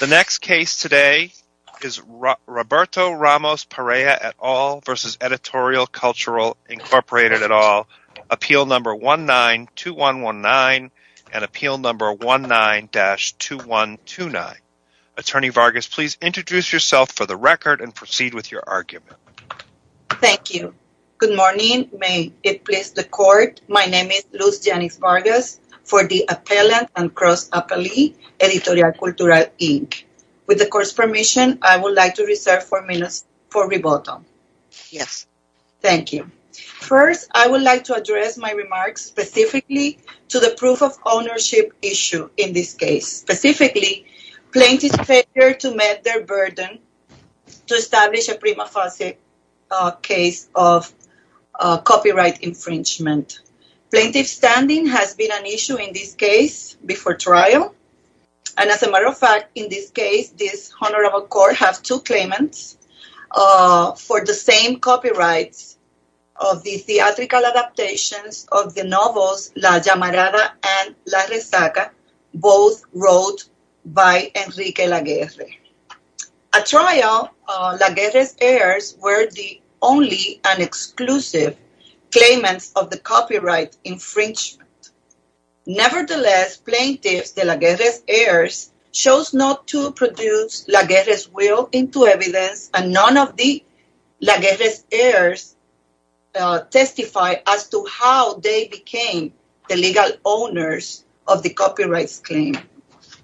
The next case today is Roberto Ramos Perea et al. versus Editorial Cultural, Incorporated et al. Appeal number 19-2119 and appeal number 19-2129. Attorney Vargas, please introduce yourself for the record and proceed with your argument. Thank you. Good morning. May it please the court, my name is Luz Editorial Cultural, Inc. With the court's permission, I would like to reserve four minutes for rebuttal. Yes. Thank you. First, I would like to address my remarks specifically to the proof of ownership issue in this case, specifically plaintiff's failure to met their burden to establish a prima facie case of copyright infringement. Plaintiff's standing has been an before trial. As a matter of fact, in this case, this honorable court has two claimants for the same copyrights of the theatrical adaptations of the novels La Llamarada and La Rezaca, both wrote by Enrique Laguerre. At trial, Laguerre's heirs were the only and exclusive claimants of the copyright infringement. Nevertheless, plaintiff's, the Laguerre's heirs, chose not to produce Laguerre's will into evidence and none of the Laguerre's heirs testified as to how they became the legal owners of the copyrights claim.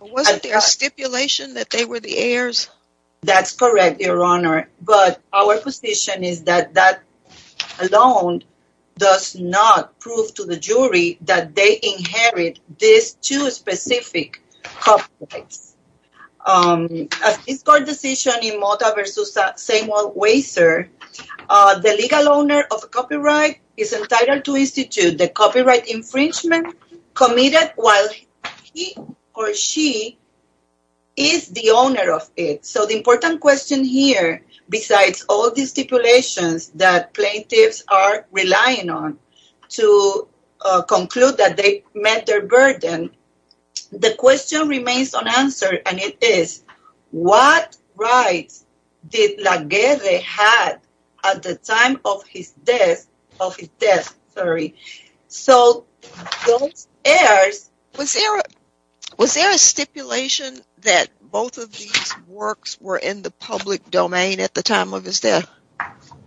Was it a stipulation that they were the heirs? That's correct, your honor, but our position is that alone does not prove to the jury that they inherit these two specific copyrights. A discord decision in Mota v. Samuel Weiser, the legal owner of the copyright is entitled to institute the copyright infringement committed while he or she is the owner of it. So, important question here, besides all these stipulations that plaintiffs are relying on to conclude that they met their burden, the question remains unanswered and it is, what rights did Laguerre have at the time of his death? So, those heirs... Was there a stipulation that both of these works were in the public domain at the time of his death?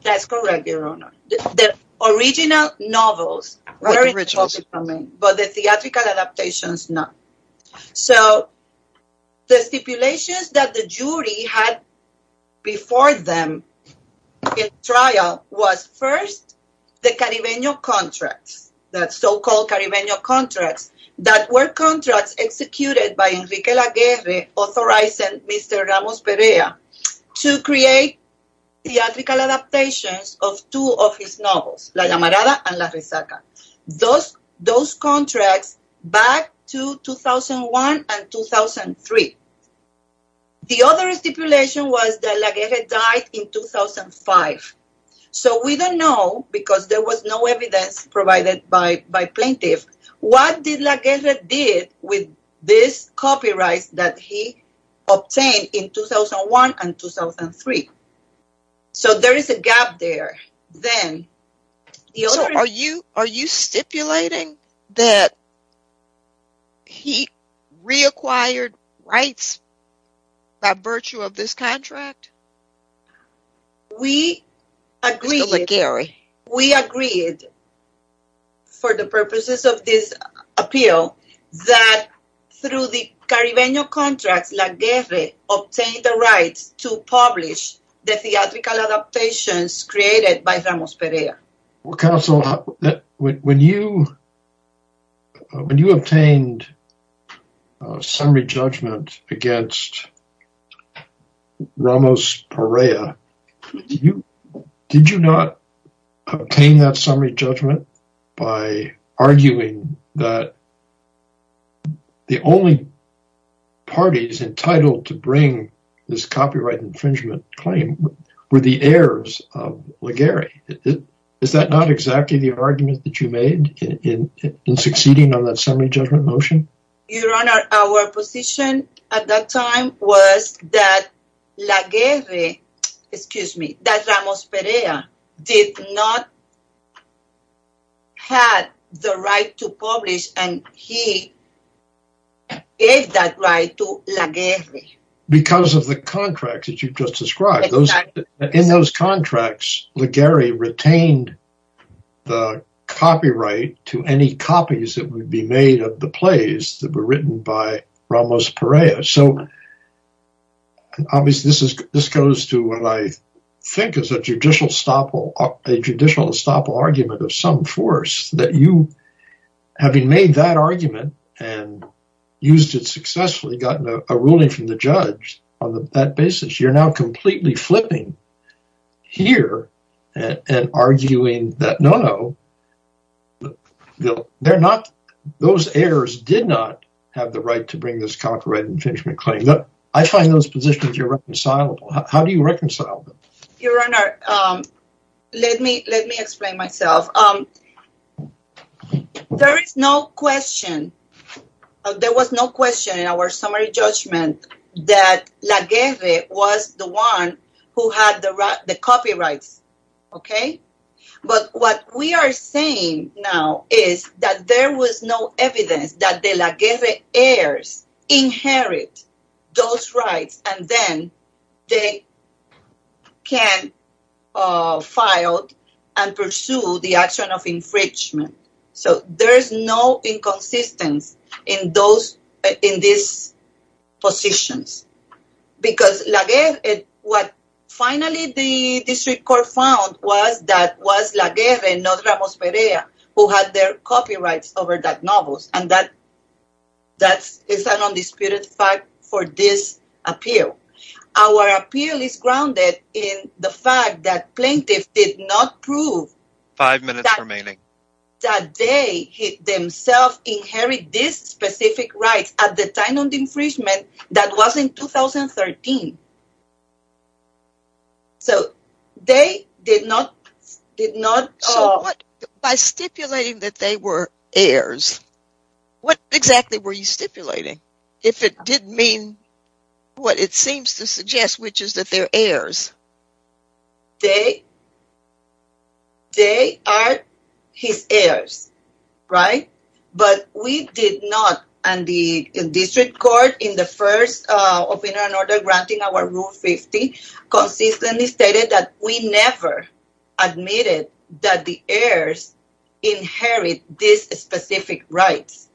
That's correct, your honor. The original novels were in the public domain, but the theatrical adaptations not. So, the stipulations that the jury had before them in trial was first the Caribeño contracts, that so-called Caribeño contracts, that were contracts executed by Enrique Laguerre, authorizing Mr. Ramos Perea to create theatrical adaptations of two of his novels, La Llamarada and La Rezaca. Those contracts back to 2001 and 2003. The other stipulation was that Laguerre died in 2005. So, we don't know because there was no evidence provided by plaintiffs. What did Laguerre do with these copyrights that he obtained in 2001 and 2003? So, there is a gap there. Are you stipulating that he reacquired rights by virtue of this contract? Mr. Laguerre. We agreed, for the purposes of this appeal, that through the Caribeño contracts, Laguerre obtained the rights to publish the theatrical adaptations created by Ramos Perea. Counsel, when you obtained a summary judgment against Ramos Perea, did you not obtain that summary judgment by arguing that the only parties entitled to bring this copyright infringement claim were the heirs of Laguerre? Is that not exactly the argument that you made in succeeding on that summary judgment motion? Your Honor, our position at that time was that Laguerre, excuse me, that Ramos Perea did not have the right to publish and he gave that right to Laguerre. Because of the contract that you just described. In those contracts, Laguerre retained the copyright to any copies that would be made of the plays that were written by Ramos Perea. So, obviously, this goes to what I think is a judicial estoppel argument of some force, that you, having made that argument and used it successfully, got a ruling from the judge on that basis. You're now completely flipping here and arguing that no, no, those heirs did not have the right to bring this copyright infringement claim. I find those positions irreconcilable. How do you reconcile them? Your Honor, let me explain myself. There is no question, there was no question in our summary judgment that Laguerre was the one who had the copyrights, okay? But what we are saying now is that there was no evidence that the Laguerre heirs inherit those rights and then they can file and pursue the action of infringement. So, there is no inconsistency in those, in these positions. Because Laguerre, what finally the district court found was that Laguerre, not Ramos Perea, who had their copyrights over that novel, and that is an undisputed fact for this appeal. Our appeal is grounded in the fact that plaintiffs did not prove that they themselves inherit these specific rights at the time of infringement that was in 2013. So, they did not, did not... So, what, by stipulating that they were heirs, what exactly were you stipulating? If it did mean what it seems to suggest, which is that they're heirs. They, they are his heirs, right? But we did not, and the district court in the first of an order granting our rule 50 consistently stated that we never admitted that the heirs inherit these specific rights.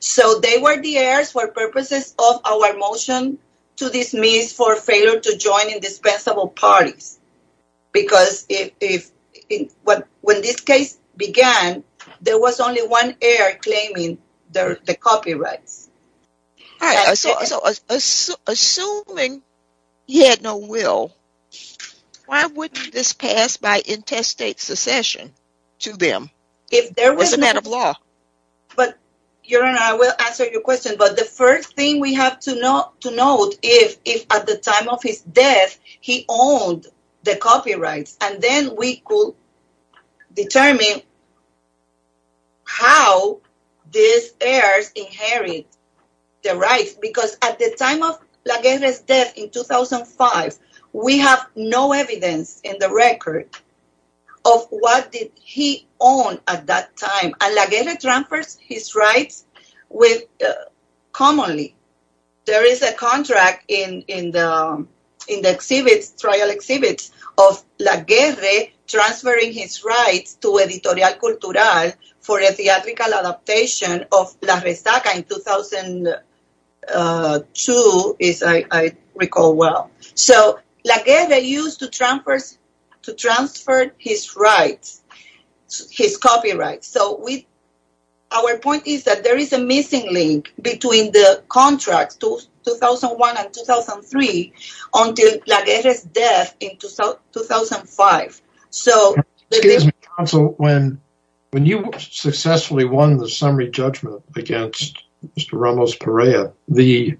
So, they were the heirs for purposes of our motion to dismiss for failure to join indispensable parties. Because if, when this case began, there was only one heir claiming the copyrights. So, assuming he had no will, why wouldn't this pass by intestate secession to them? If there was a matter of law. But, Your Honor, I will answer your question. But the first thing we have to know, to note, if at the time of his death he owned the copyrights, then we could determine how these heirs inherit the rights. Because at the time of Laguerre's death in 2005, we have no evidence in the record of what did he own at that time. And Laguerre transfers his rights with, commonly, there is a contract in the exhibits, trial transferring his rights to Editorial Cultural for a theatrical adaptation of La Rezaca in 2002, as I recall well. So, Laguerre used to transfer his rights, his copyrights. So, our point is that there is a missing link between the contracts, 2001 and 2003, until Laguerre's death in 2005. Excuse me, counsel, when you successfully won the summary judgment against Mr. Ramos Perea, the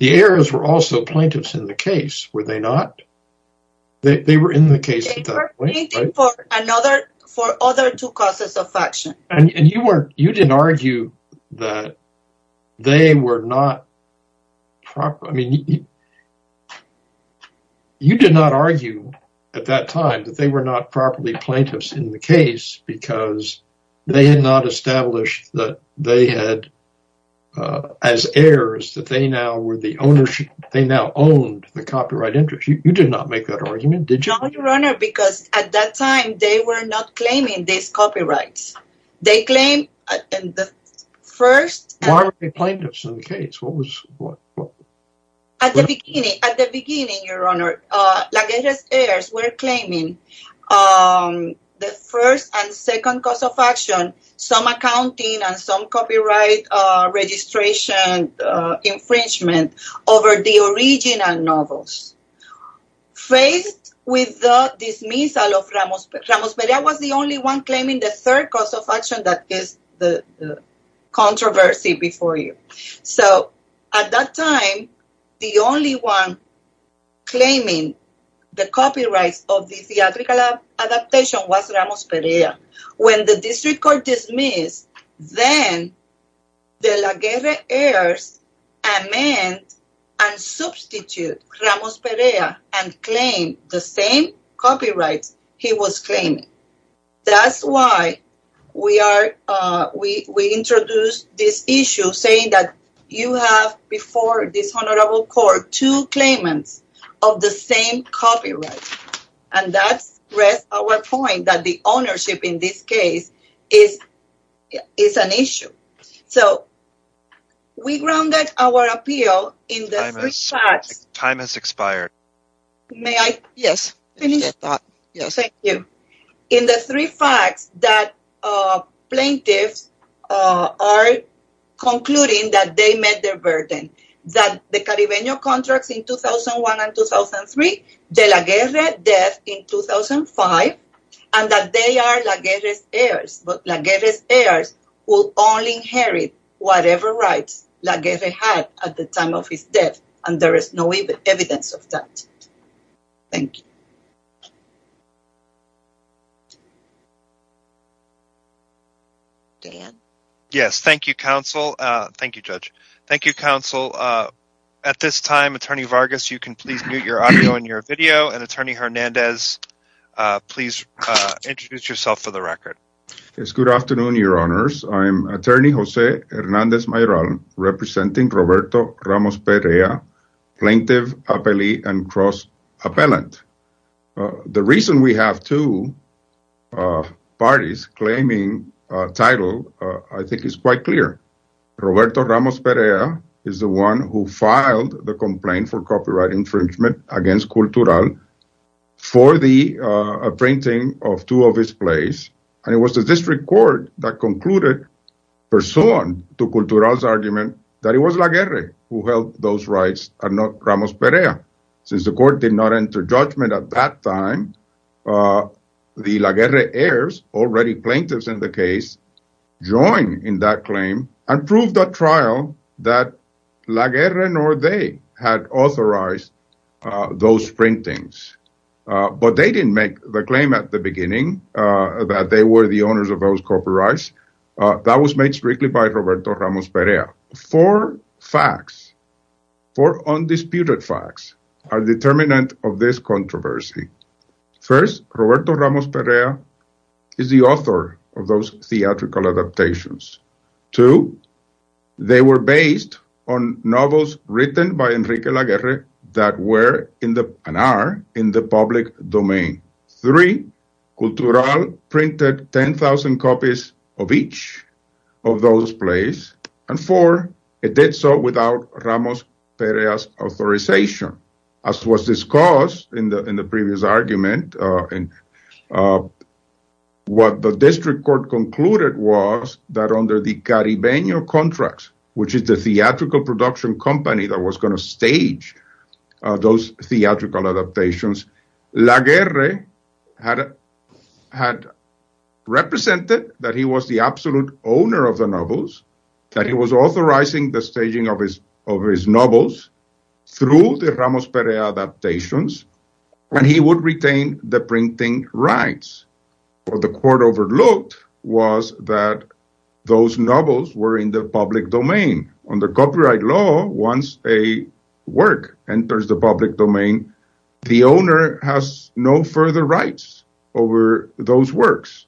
heirs were also plaintiffs in the case, were they not? They were in the case at that point. They were pleading for other two causes of action. You did not argue at that time that they were not properly plaintiffs in the case because they had not established that they had, as heirs, that they now owned the copyright interest. You did not make that argument, did you? No, Your Honor, because at that time they were not claiming these copyrights. They claimed in the first… Why were they plaintiffs in the case? At the beginning, Your Honor, Laguerre's heirs were claiming the first and second cause of action, some accounting and some copyright registration infringement over the original novels. Faced with the dismissal of Ramos Perea, Ramos Perea was the only one claiming the third cause of action that is the controversy before you. So, at that time, the only one claiming the copyrights of the theatrical adaptation was Ramos Perea. When the district court dismissed, then the Laguerre heirs amended and substituted Ramos Perea and claimed the same copyrights he was claiming. That's why we introduced this issue saying that you have before this honorable court two claimants of the same copyright. And that's our point that the is an issue. So, we grounded our appeal in the three facts… Time has expired. May I? Yes. Thank you. In the three facts that plaintiffs are concluding that they met their burden, that the Caribeño contracts in 2001 and 2003, the Laguerre death in 2005, and that they are Laguerre's heirs, but Laguerre's heirs will only inherit whatever rights Laguerre had at the time of his death, and there is no evidence of that. Thank you. Dan? Yes. Thank you, counsel. Thank you, judge. Thank you, counsel. At this time, Attorney Vargas, you can please mute your audio and your video, and Attorney Hernandez, please introduce yourself for the record. Yes. Good afternoon, your honors. I'm Attorney Jose Hernandez Mayoral, representing Roberto Ramos Perea, plaintiff, appellee, and cross-appellant. The reason we have two parties claiming title, I think, is quite clear. Roberto Ramos Perea is the one who filed the complaint for copyright infringement against Cultural for the printing of two of his plays, and it was the district court that concluded, pursuant to Cultural's argument, that it was Laguerre who held those rights and not Ramos Perea. Since the court did not enter judgment at that time, the Laguerre heirs, already plaintiffs in the case, joined in that claim and proved at trial that Laguerre nor they had authorized those printings. But they didn't make the claim at the beginning that they were the owners of those copyrights. That was made strictly by Roberto Ramos Perea. Four facts, four undisputed facts, are determinant of this controversy. First, Roberto Ramos Perea is the author of those theatrical adaptations. Two, they were based on novels written by Enrique Laguerre that were and are in the public domain. Three, Cultural printed 10,000 copies of each of those plays, and four, it did so without Ramos Perea's authorization. As was discussed in the previous argument, what the district court concluded was that under the Caribeño contracts, which is the theatrical production company that was going to stage those theatrical adaptations, Laguerre had represented that he was the absolute owner of the novels, that he was authorizing the staging of his novels through the Ramos Perea adaptations, and he would retain the printing rights. What the court overlooked was that those novels were in the public domain. Under copyright law, once a work enters the public domain, the owner has no further rights over those works.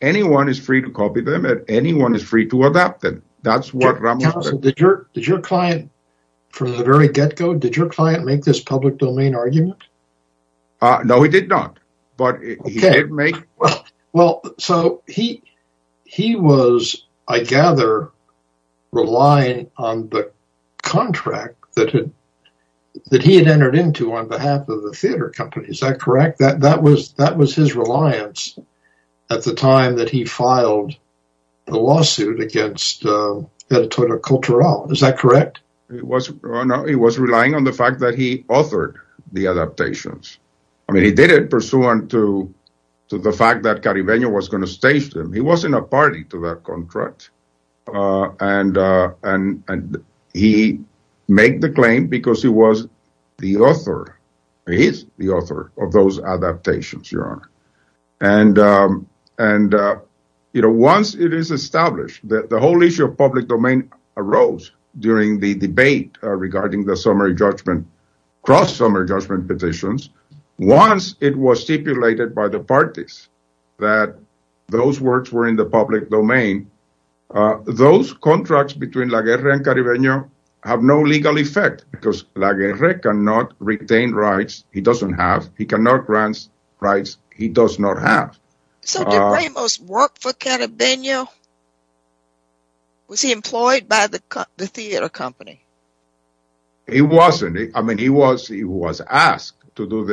Anyone is free to copy them, and anyone is free to adapt them. That's what Ramos did. Did your client, from the very get-go, did your client make this public domain argument? No, he did not, but he did make... Well, so he was, I gather, relying on the contract that he had entered into on behalf of the theater company, is that correct? That was his reliance at the time that he filed the lawsuit against Editorial Cultural, is that correct? It was, no, he was relying on the fact that he authored the adaptations. I mean, he did it pursuant to the fact that Caribeño was going to stage them. He wasn't a party to that contract, and he made the claim because he was the author, he is the author of those adaptations, Your Honor. And, you know, once it is established, the whole issue of public domain arose during the debate regarding the summary judgment, cross-summary judgment petitions. Once it was stipulated by the parties that those works were in the public domain, those contracts between La Guerra and Caribeño have no legal effect because La Guerra cannot retain rights, he doesn't have, he cannot grant rights, he does not have. So did Ramos work for Caribeño? Was he employed by the theater company? He wasn't. I mean, he was asked to do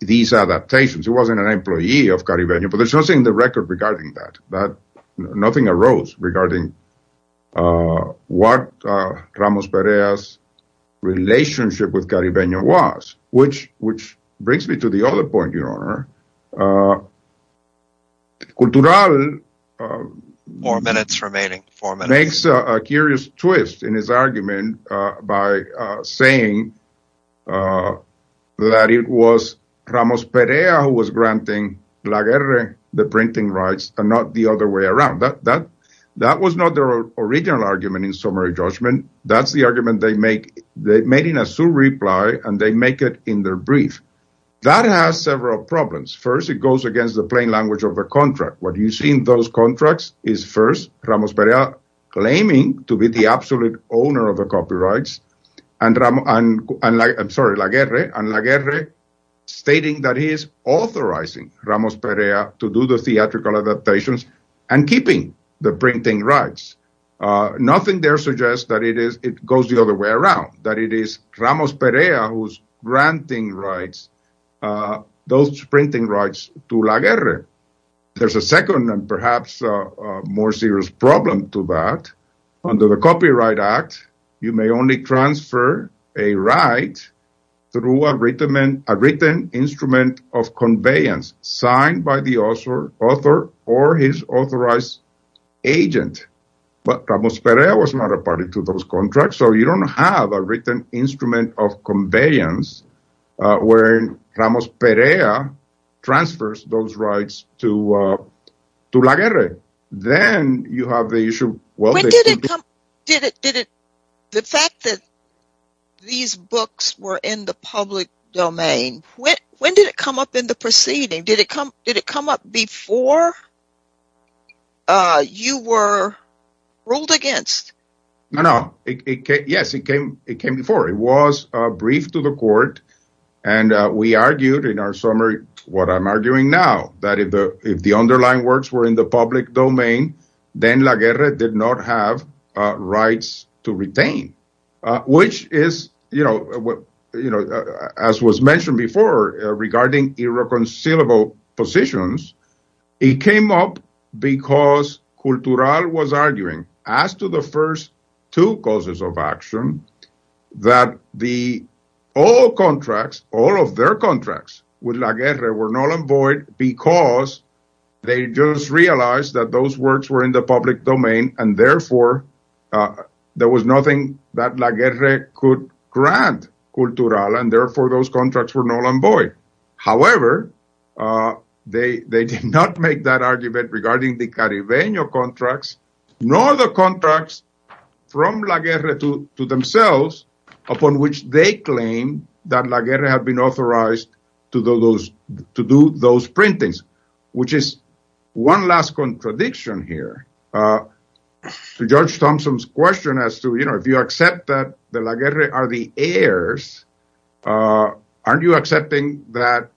these adaptations. He wasn't an employee of Caribeño, but there's nothing in the record regarding that. Nothing arose regarding what Ramos Perea's relationship with Caribeño was, which brings me to the other point, Your Honor, Cultural makes a curious twist in his argument by saying that it was Ramos Perea who was granting La Guerra the printing rights and not the other way around. That was not their original argument in summary judgment. That's the argument they make, they made in a suit reply, and they make in their brief. That has several problems. First, it goes against the plain language of a contract. What you see in those contracts is first Ramos Perea claiming to be the absolute owner of the copyrights and La Guerra stating that he is authorizing Ramos Perea to do the theatrical adaptations and keeping the printing rights. Nothing there suggests that it goes the other way around, that it is Ramos Perea who's granting those printing rights to La Guerra. There's a second and perhaps more serious problem to that. Under the Copyright Act, you may only transfer a right through a written instrument of conveyance signed by the author or his authorized agent, but Ramos Perea was not a party to those contracts, so you don't have a written instrument of conveyance wherein Ramos Perea transfers those rights to La Guerra. The fact that these books were in the public domain, when did it come up in the proceeding? Did it come up before you were ruled against? No, no. Yes, it came before. It was briefed to the court, and we argued in our summary what I'm arguing now, that if the underlying works were in the public domain, then La Guerra did not have rights to retain, which is, as was mentioned before, regarding irreconcilable positions. It came up because Cultural was arguing, as to the first two causes of action, that all of their contracts with La Guerra were null and void because they just realized that those works were in the public domain, and therefore there was nothing that La Guerra could grant Cultural, and therefore those contracts were null and void. However, they did not make that argument regarding the Caribeño contracts, nor the contracts from La Guerra to themselves, upon which they claim that La Guerra had been authorized to do those printings, which is one last contradiction here. To Judge Thompson's question, if you accept that La Guerra are the heirs, aren't you accepting that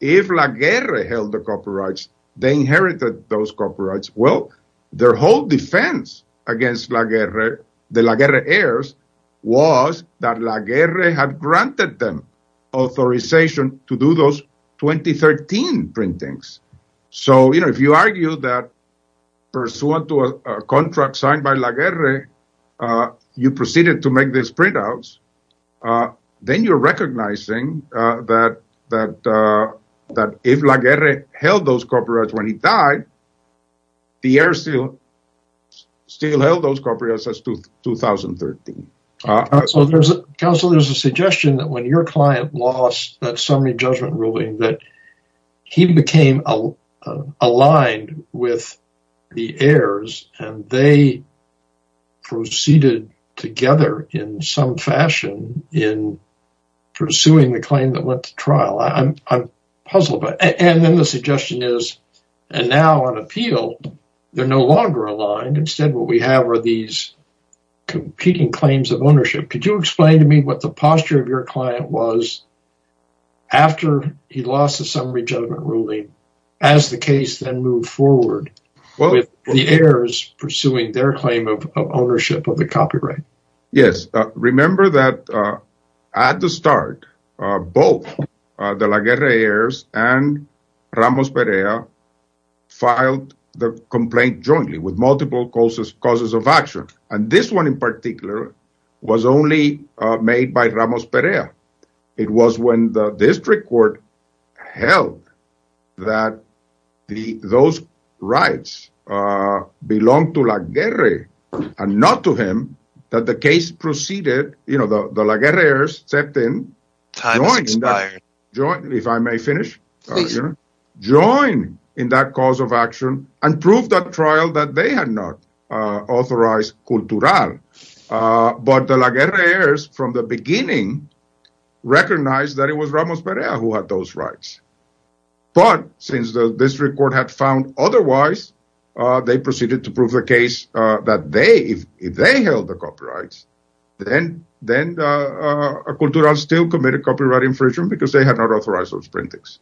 if La Guerra held the copyrights, they inherited those copyrights? Well, their whole defense against the La Guerra heirs was that La Guerra had granted them authorization to do those 2013 printings. So, you know, if you argue that pursuant to a contract signed by La Guerra, you proceeded to make these printouts, then you're recognizing that if La Guerra held those copyrights when he died, the heirs still held those copyrights as 2013. Counsel, there's a suggestion that when your client lost that summary judgment ruling, that he became aligned with the heirs, and they proceeded together in some fashion in pursuing the claim that went to trial. I'm puzzled by it. And then the suggestion is, and now on appeal, they're no longer aligned. Instead, what we have are these competing claims of ownership. Could you explain to me what the posture of your client was after he lost the summary judgment ruling, as the case then moved forward with the heirs pursuing their claim of ownership of the copyright? Yes. Remember that at the start, both the La Guerra heirs and Ramos Perea filed the complaint jointly with multiple causes of action. And this one in particular was only made by Ramos Perea. It was when the district court held that those rights belong to La Guerra and not to him, that the case proceeded, you know, the La Guerra heirs stepped in, if I may finish, joined in that cause of action and proved at trial that they had not authorized cultural. But the La Guerra heirs from the beginning recognized that it was Ramos Perea who had those rights. But since the district court had found otherwise, they proceeded to prove the case that if they held the copyrights, then a cultural still committed copyright infringement because they had not authorized those printings.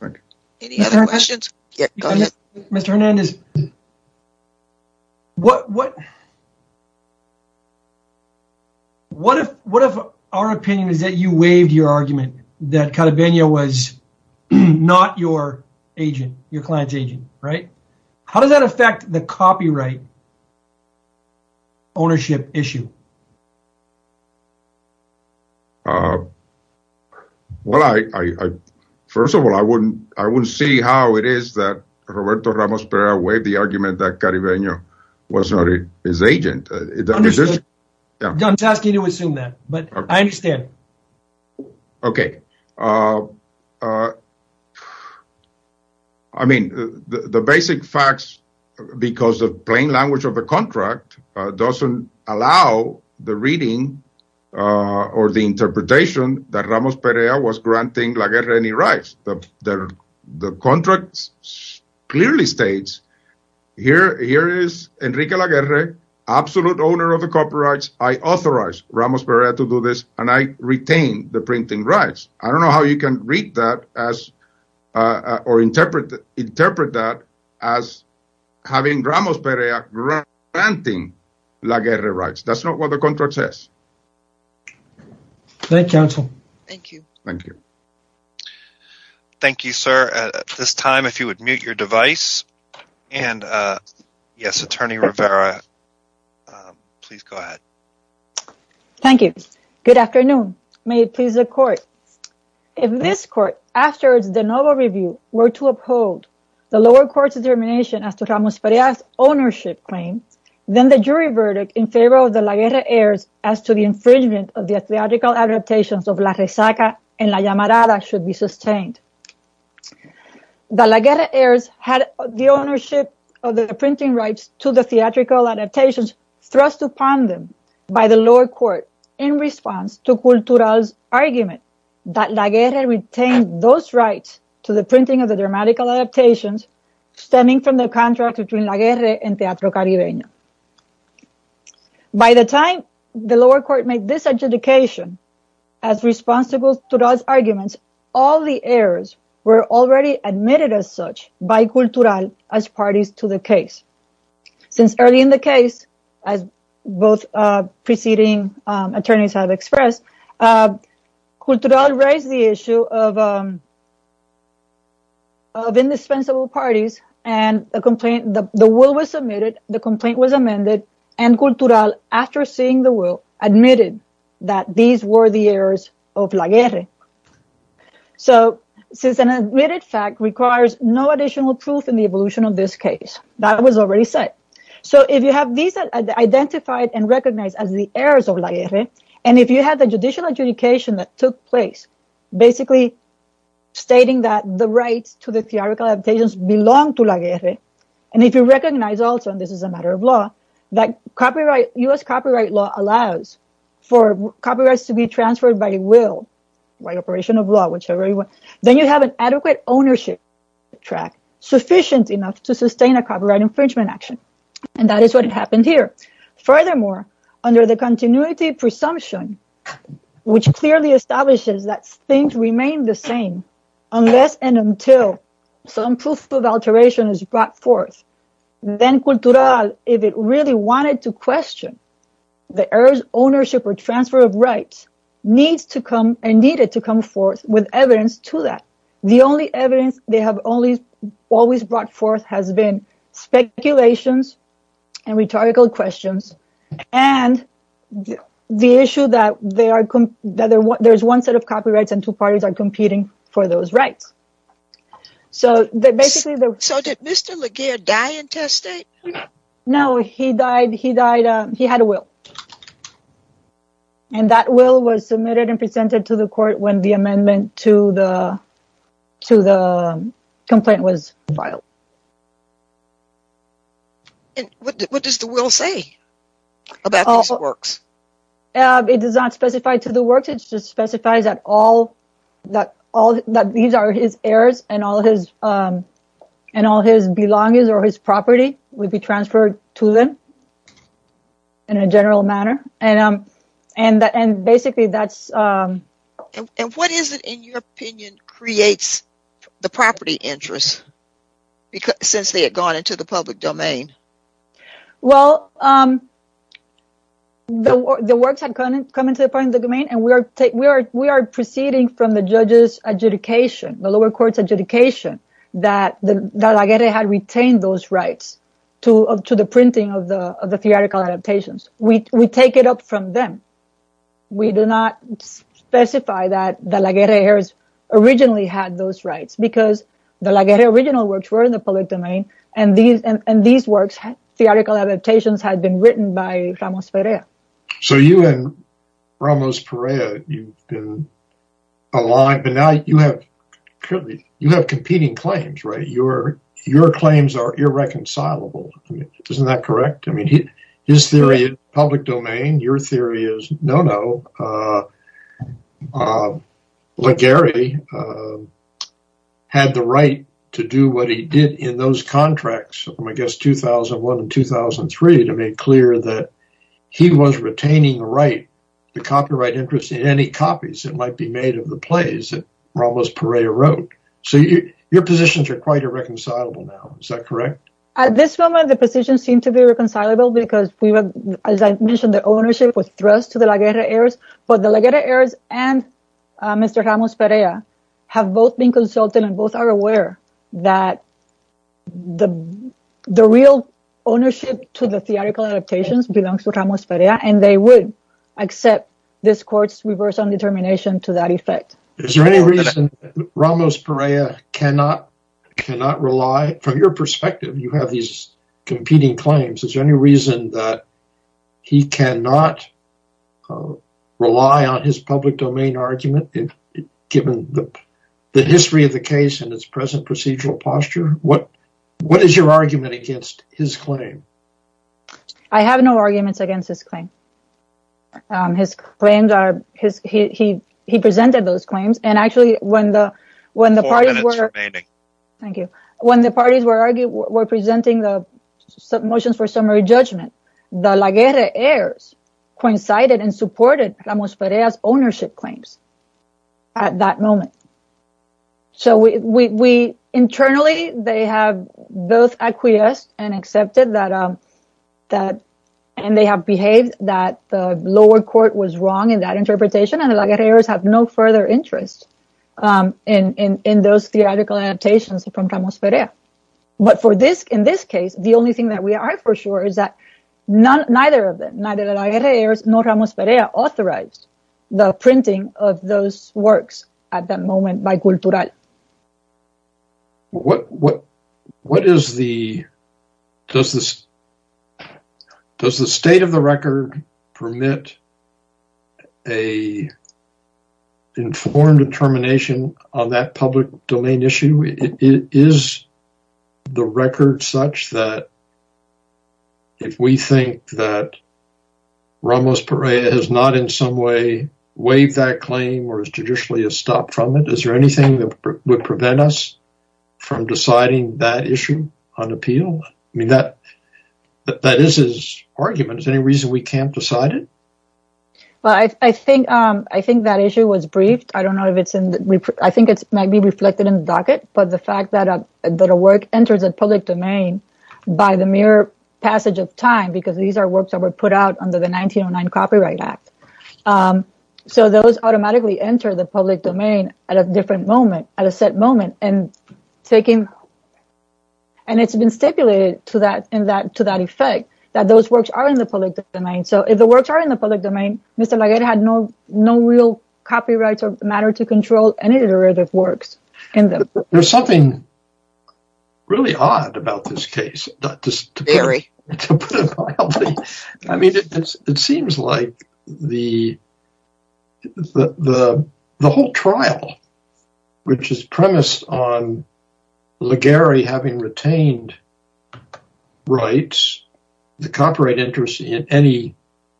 Thank you. Any other questions? Mr. Hernandez, what if our opinion is that you waived your argument that Calavenya was not your agent, your client's agent, right? How does that affect the copyright ownership issue? Well, first of all, I wouldn't see how it is that Roberto Ramos Perea waived the argument that Calavenya was not his agent. I'm just asking you to assume that, but I understand. Okay. I mean, the basic facts, because of plain language of the contract, doesn't allow the reading or the interpretation that Ramos Perea was granting La Guerra any rights. The contract clearly states, here is Enrique La Guerra, absolute owner of the copyrights. I authorize Ramos Perea to do this and I retain the printing rights. I don't know how you can read that as, or interpret that as having Ramos Perea granting La Guerra rights. That's not what the contract says. Thank you, counsel. Thank you. Thank you. Thank you, sir. At this time, if you would mute your device and yes, Attorney Rivera, please go ahead. Thank you. Good afternoon. May it please the court. If this court, after the novel review, were to uphold the lower court's determination as to Ramos Perea's ownership claim, then the jury verdict in favor of the La Guerra heirs as to the infringement of the theatrical adaptations of La Rezaca and La Llamarada should be sustained. The La Guerra heirs had the ownership of the printing rights to the theatrical adaptations thrust upon them by the lower court in response to Cultural's argument that La Guerra retained those rights to the printing of the dramatical adaptations stemming from the contract between La Guerra and Teatro Caribeño. By the time the lower court made this adjudication as responsible to those arguments, all the heirs were already admitted as such by Cultural as both preceding attorneys have expressed. Cultural raised the issue of indispensable parties, and the will was submitted, the complaint was amended, and Cultural, after seeing the will, admitted that these were the heirs of La Guerra. So, since an admitted fact requires no additional proof in the evolution of this case, that was already said. So, if you have these identified and recognized as the heirs of La Guerra, and if you have the judicial adjudication that took place basically stating that the rights to the theatrical adaptations belong to La Guerra, and if you recognize also, and this is a matter of law, that copyright, U.S. copyright law allows for copyrights to be transferred by will, by operation of law, whichever you want, then you have an adequate ownership track sufficient enough to sustain a copyright infringement action, and that is what happened here. Furthermore, under the continuity presumption, which clearly establishes that things remain the same unless and until some proof of alteration is brought forth, then Cultural, if it really wanted to question the heir's ownership or transfer of with evidence to that, the only evidence they have always brought forth has been speculations and rhetorical questions, and the issue that there's one set of copyrights and two parties are competing for those rights. So, basically... So, did Mr. La Guerra die in test state? No, he died, he died, he had a will, and that will was submitted and presented to the court when the amendment to the complaint was filed. And what does the will say about these works? It does not specify to the works, it just specifies that all, that these are his heirs and all his belongings or his property would be transferred to them in a general manner, and basically that's... And what is it, in your opinion, creates the property interest since they had gone into the public domain? Well, the works had come into the public domain and we are proceeding from the judges' adjudication, the lower court's adjudication, that La Guerra had retained those rights to the printing of the theoretical adaptations. We take it up from them. We do not specify that the La Guerra heirs originally had those rights because the La Guerra original works were in the public domain and these works, theoretical adaptations, had been written by Ramos Perea. So, you and Ramos Perea, you've been aligned, but now you have competing claims, right? Your public domain, your theory is, no, no, La Guerra had the right to do what he did in those contracts, I guess, 2001 and 2003, to make clear that he was retaining the copyright interest in any copies that might be made of the plays that Ramos Perea wrote. So, your positions are quite irreconcilable now. Is that correct? At this moment, the positions seem to be reconcilable because as I mentioned, the ownership was thrust to the La Guerra heirs, but the La Guerra heirs and Mr. Ramos Perea have both been consulted and both are aware that the real ownership to the theoretical adaptations belongs to Ramos Perea and they would accept this court's reverse undetermination to that effect. Is there any reason Ramos Perea cannot rely, from your perspective, you have these competing claims, is there any reason that he cannot rely on his public domain argument, given the history of the case and its present procedural posture? What is your argument against his claim? I have no arguments against his claim. He presented those claims and actually when the parties were presenting the motions for summary judgment, the La Guerra heirs coincided and supported Ramos Perea's ownership claims at that moment. So, internally, they have both acquiesced and accepted that and they have behaved that the lower court was wrong in that interpretation and the La Guerra heirs have no further interest in those theoretical adaptations from Ramos Perea. But in this case, the only thing that we are for sure is that neither of them, neither the La Guerra heirs nor Ramos Perea authorized the printing of those works at that time. Does the state of the record permit an informed determination on that public domain issue? Is the record such that if we think that Ramos Perea has not in some way waived that claim or has judicially stopped from it, is there anything that would prevent us from deciding that issue on appeal? I mean, that is his argument. Is there any reason we can't decide it? Well, I think that issue was briefed. I don't know if it's in the, I think it might be reflected in the docket but the fact that a work enters a public domain by the mere passage of time because these are works that were put out under the 1909 Copyright Act. So, those automatically enter the public domain at a different moment, at a set moment and it's been stipulated to that effect that those works are in the public domain. So, if the works are in the public domain, Mr. La Guerra had no real copyrights or matter to control any iterative works in them. There's something really odd about this case. Very. To put it mildly, I mean, it seems like the whole trial which is premised on La Guerra having retained rights, the copyright interest in any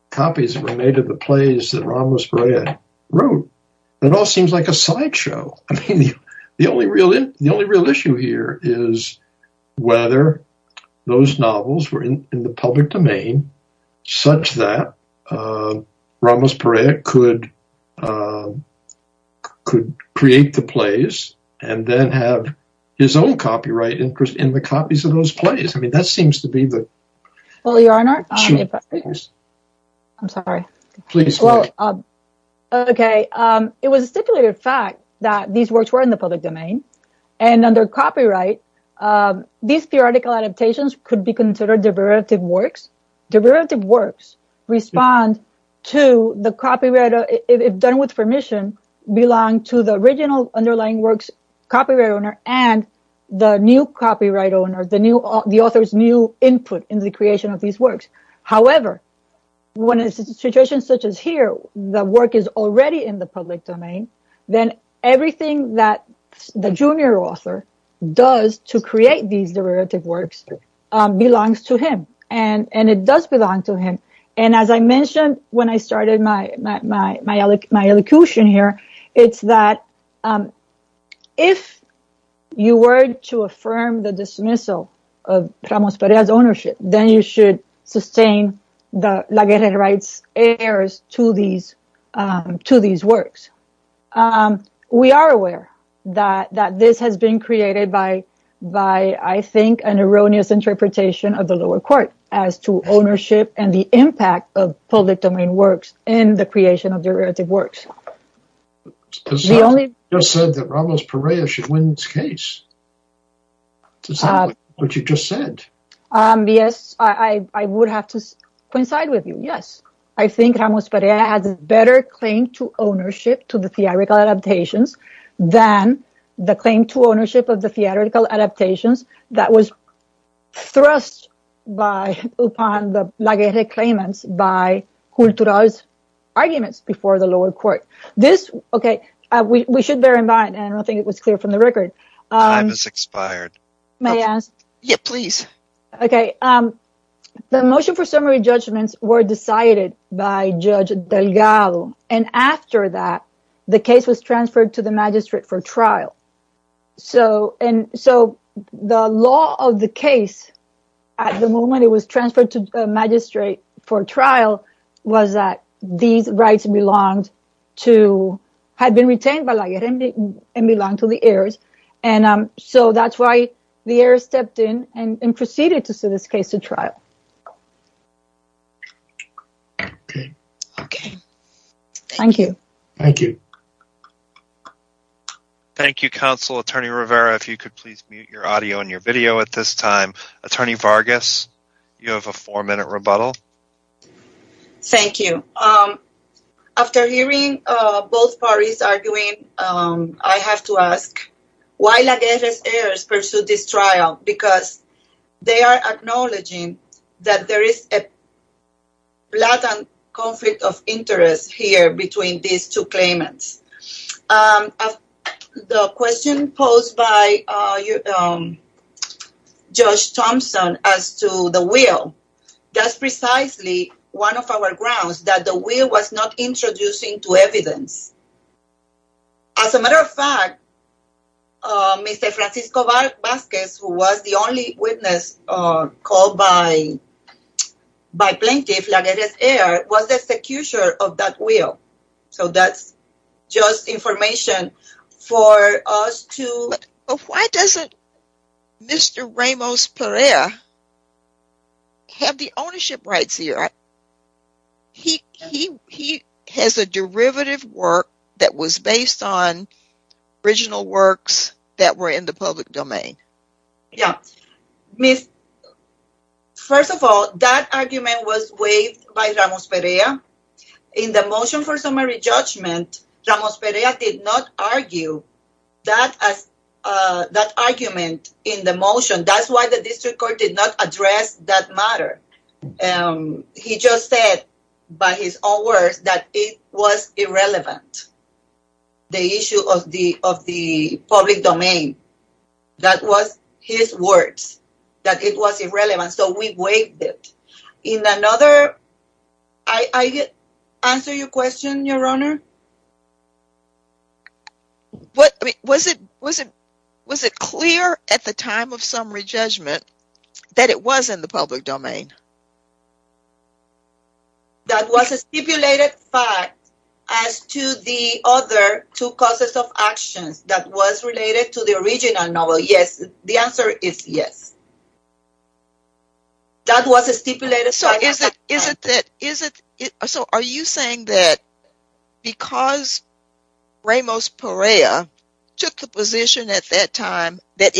copies that were made of the plays that Ramos Perea wrote, it all seems like a sideshow. I mean, the only real issue here is whether those novels were in the public domain such that Ramos Perea could create the plays and then have his own copyright interest in the copies of those plays. I mean, that seems to be the issue. Well, Your Honor, I'm sorry. Please, go ahead. Okay, it was a stipulated fact that these works were in the public domain and under copyright, these theoretical adaptations could be considered derivative works. Derivative works respond to the copyright, if done with permission, belong to the original underlying works copyright owner and the new copyright owner, the author's new input in the creation of these works. However, when it's a situation such as here, the work is already in the public domain, then everything that the junior author does to create these derivative works belongs to him and it does belong to him. And as I mentioned when I started my elocution here, it's that if you were to affirm the dismissal of Ramos Perea's ownership, then you should sustain the laguerre rights heirs to these works. We are aware that this has been created by, I think, an erroneous interpretation of the lower court as to ownership and the impact of public domain works in the creation of derivative works. You just said that Ramos would have to coincide with you. Yes, I think Ramos Perea has a better claim to ownership to the theoretical adaptations than the claim to ownership of the theoretical adaptations that was thrust upon the laguerre claimants by Cultural's arguments before the lower court. We should bear in mind that the motion for summary judgments were decided by Judge Delgado and after that, the case was transferred to the magistrate for trial. The law of the case, at the moment it was transferred to the magistrate for trial, was that these rights had been retained by the laguerre and belonged to the heirs. That's why the heirs stepped in and proceeded to send this case to trial. Thank you. Thank you. Thank you, counsel. Attorney Rivera, if you could please mute your audio and your video at this time. Attorney Vargas, you have a four-minute rebuttal. Thank you. After hearing both parties arguing, I have to ask why laguerre heirs pursued this trial because they are acknowledging that there is a blatant conflict of interest here between these two claimants. The question posed by Judge Thompson as to the will, that's precisely one of our grounds that the will was not introducing to evidence. As a matter of fact, Mr. Francisco Vasquez, who was the only witness called by plaintiff, laguerre heir, was the accuser of that will. So that's just information for us to... But why doesn't Mr. Ramos Perea have the ownership rights here? He has a derivative work that was based on original works that were in the public domain. Yeah. First of all, that argument was waived by Ramos Perea. In the motion for summary judgment, Ramos Perea did not argue that argument in the motion. That's why the district court did not address that matter. He just said by his own words that it was irrelevant, the issue of the public domain. That was his words, that it was irrelevant. So we waived it. I answer your question, Your Honor? Was it clear at the time of summary judgment that it was in the public domain? That was a stipulated fact as to the other two causes of actions that was related to the original novel. Yes, the answer is yes. That was a stipulated fact. So are you saying that because Ramos Perea took the position at that time that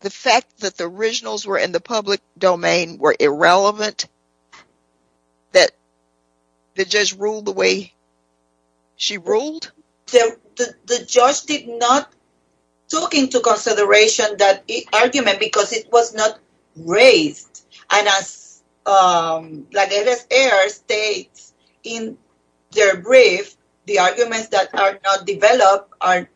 the fact that the originals were in the public domain were irrelevant, that the judge ruled the way she ruled? The judge did not take into consideration that argument because it was not raised. And as Bladere's heir states in their brief, the arguments that are not developed are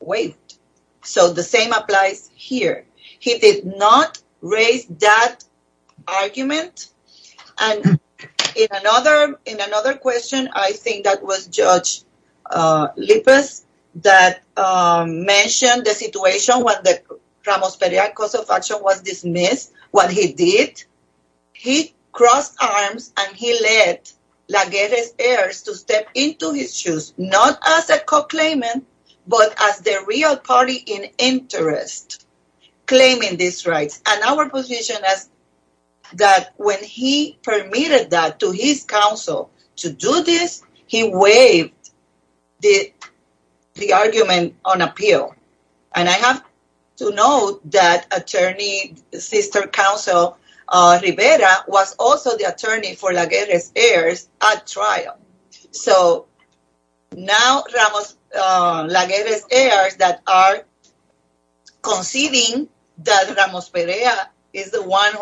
waived. So the same applies here. He did not raise that argument. And in another question, I think that was Judge Lippes that mentioned the situation when the Ramos Perea cause of action was dismissed. What he did, he crossed arms and he led Bladere's heirs to step into his shoes, not as a co-claimant, but as the real party in interest, claiming these rights. And our position is that when he permitted that to his counsel to do this, he waived the argument on appeal. And I have to note that Attorney Sister Counsel Rivera was also the attorney for Bladere's heirs at trial. So now Bladere's heirs that are conceding that Ramos Perea is the one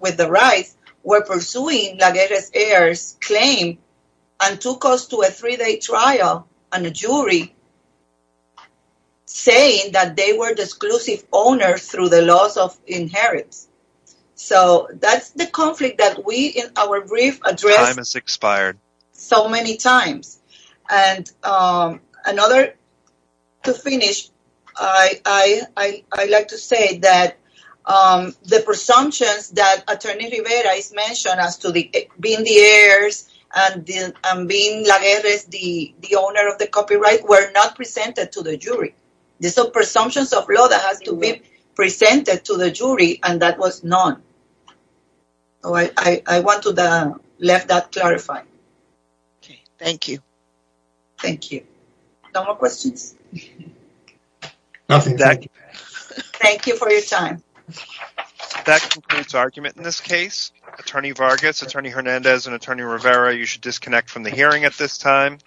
with the rights were pursuing Bladere's heirs claim and took us to a three-day trial and a jury saying that they were the exclusive owners through the laws of inheritance. So that's the conflict that we in our brief address so many times. And to finish, I like to say that the presumptions that Attorney Rivera has mentioned as to being the heirs and being Bladere's the owner of the copyright were not presented to the jury. These are presumptions of law that has to be presented to the jury and that was known. I want to let that clarify. Okay, thank you. Thank you. No more questions? Nothing. Thank you for your time. That concludes argument in this case. Attorney Vargas, Attorney Hernandez, and Attorney Rivera, you should disconnect from the hearing at this time.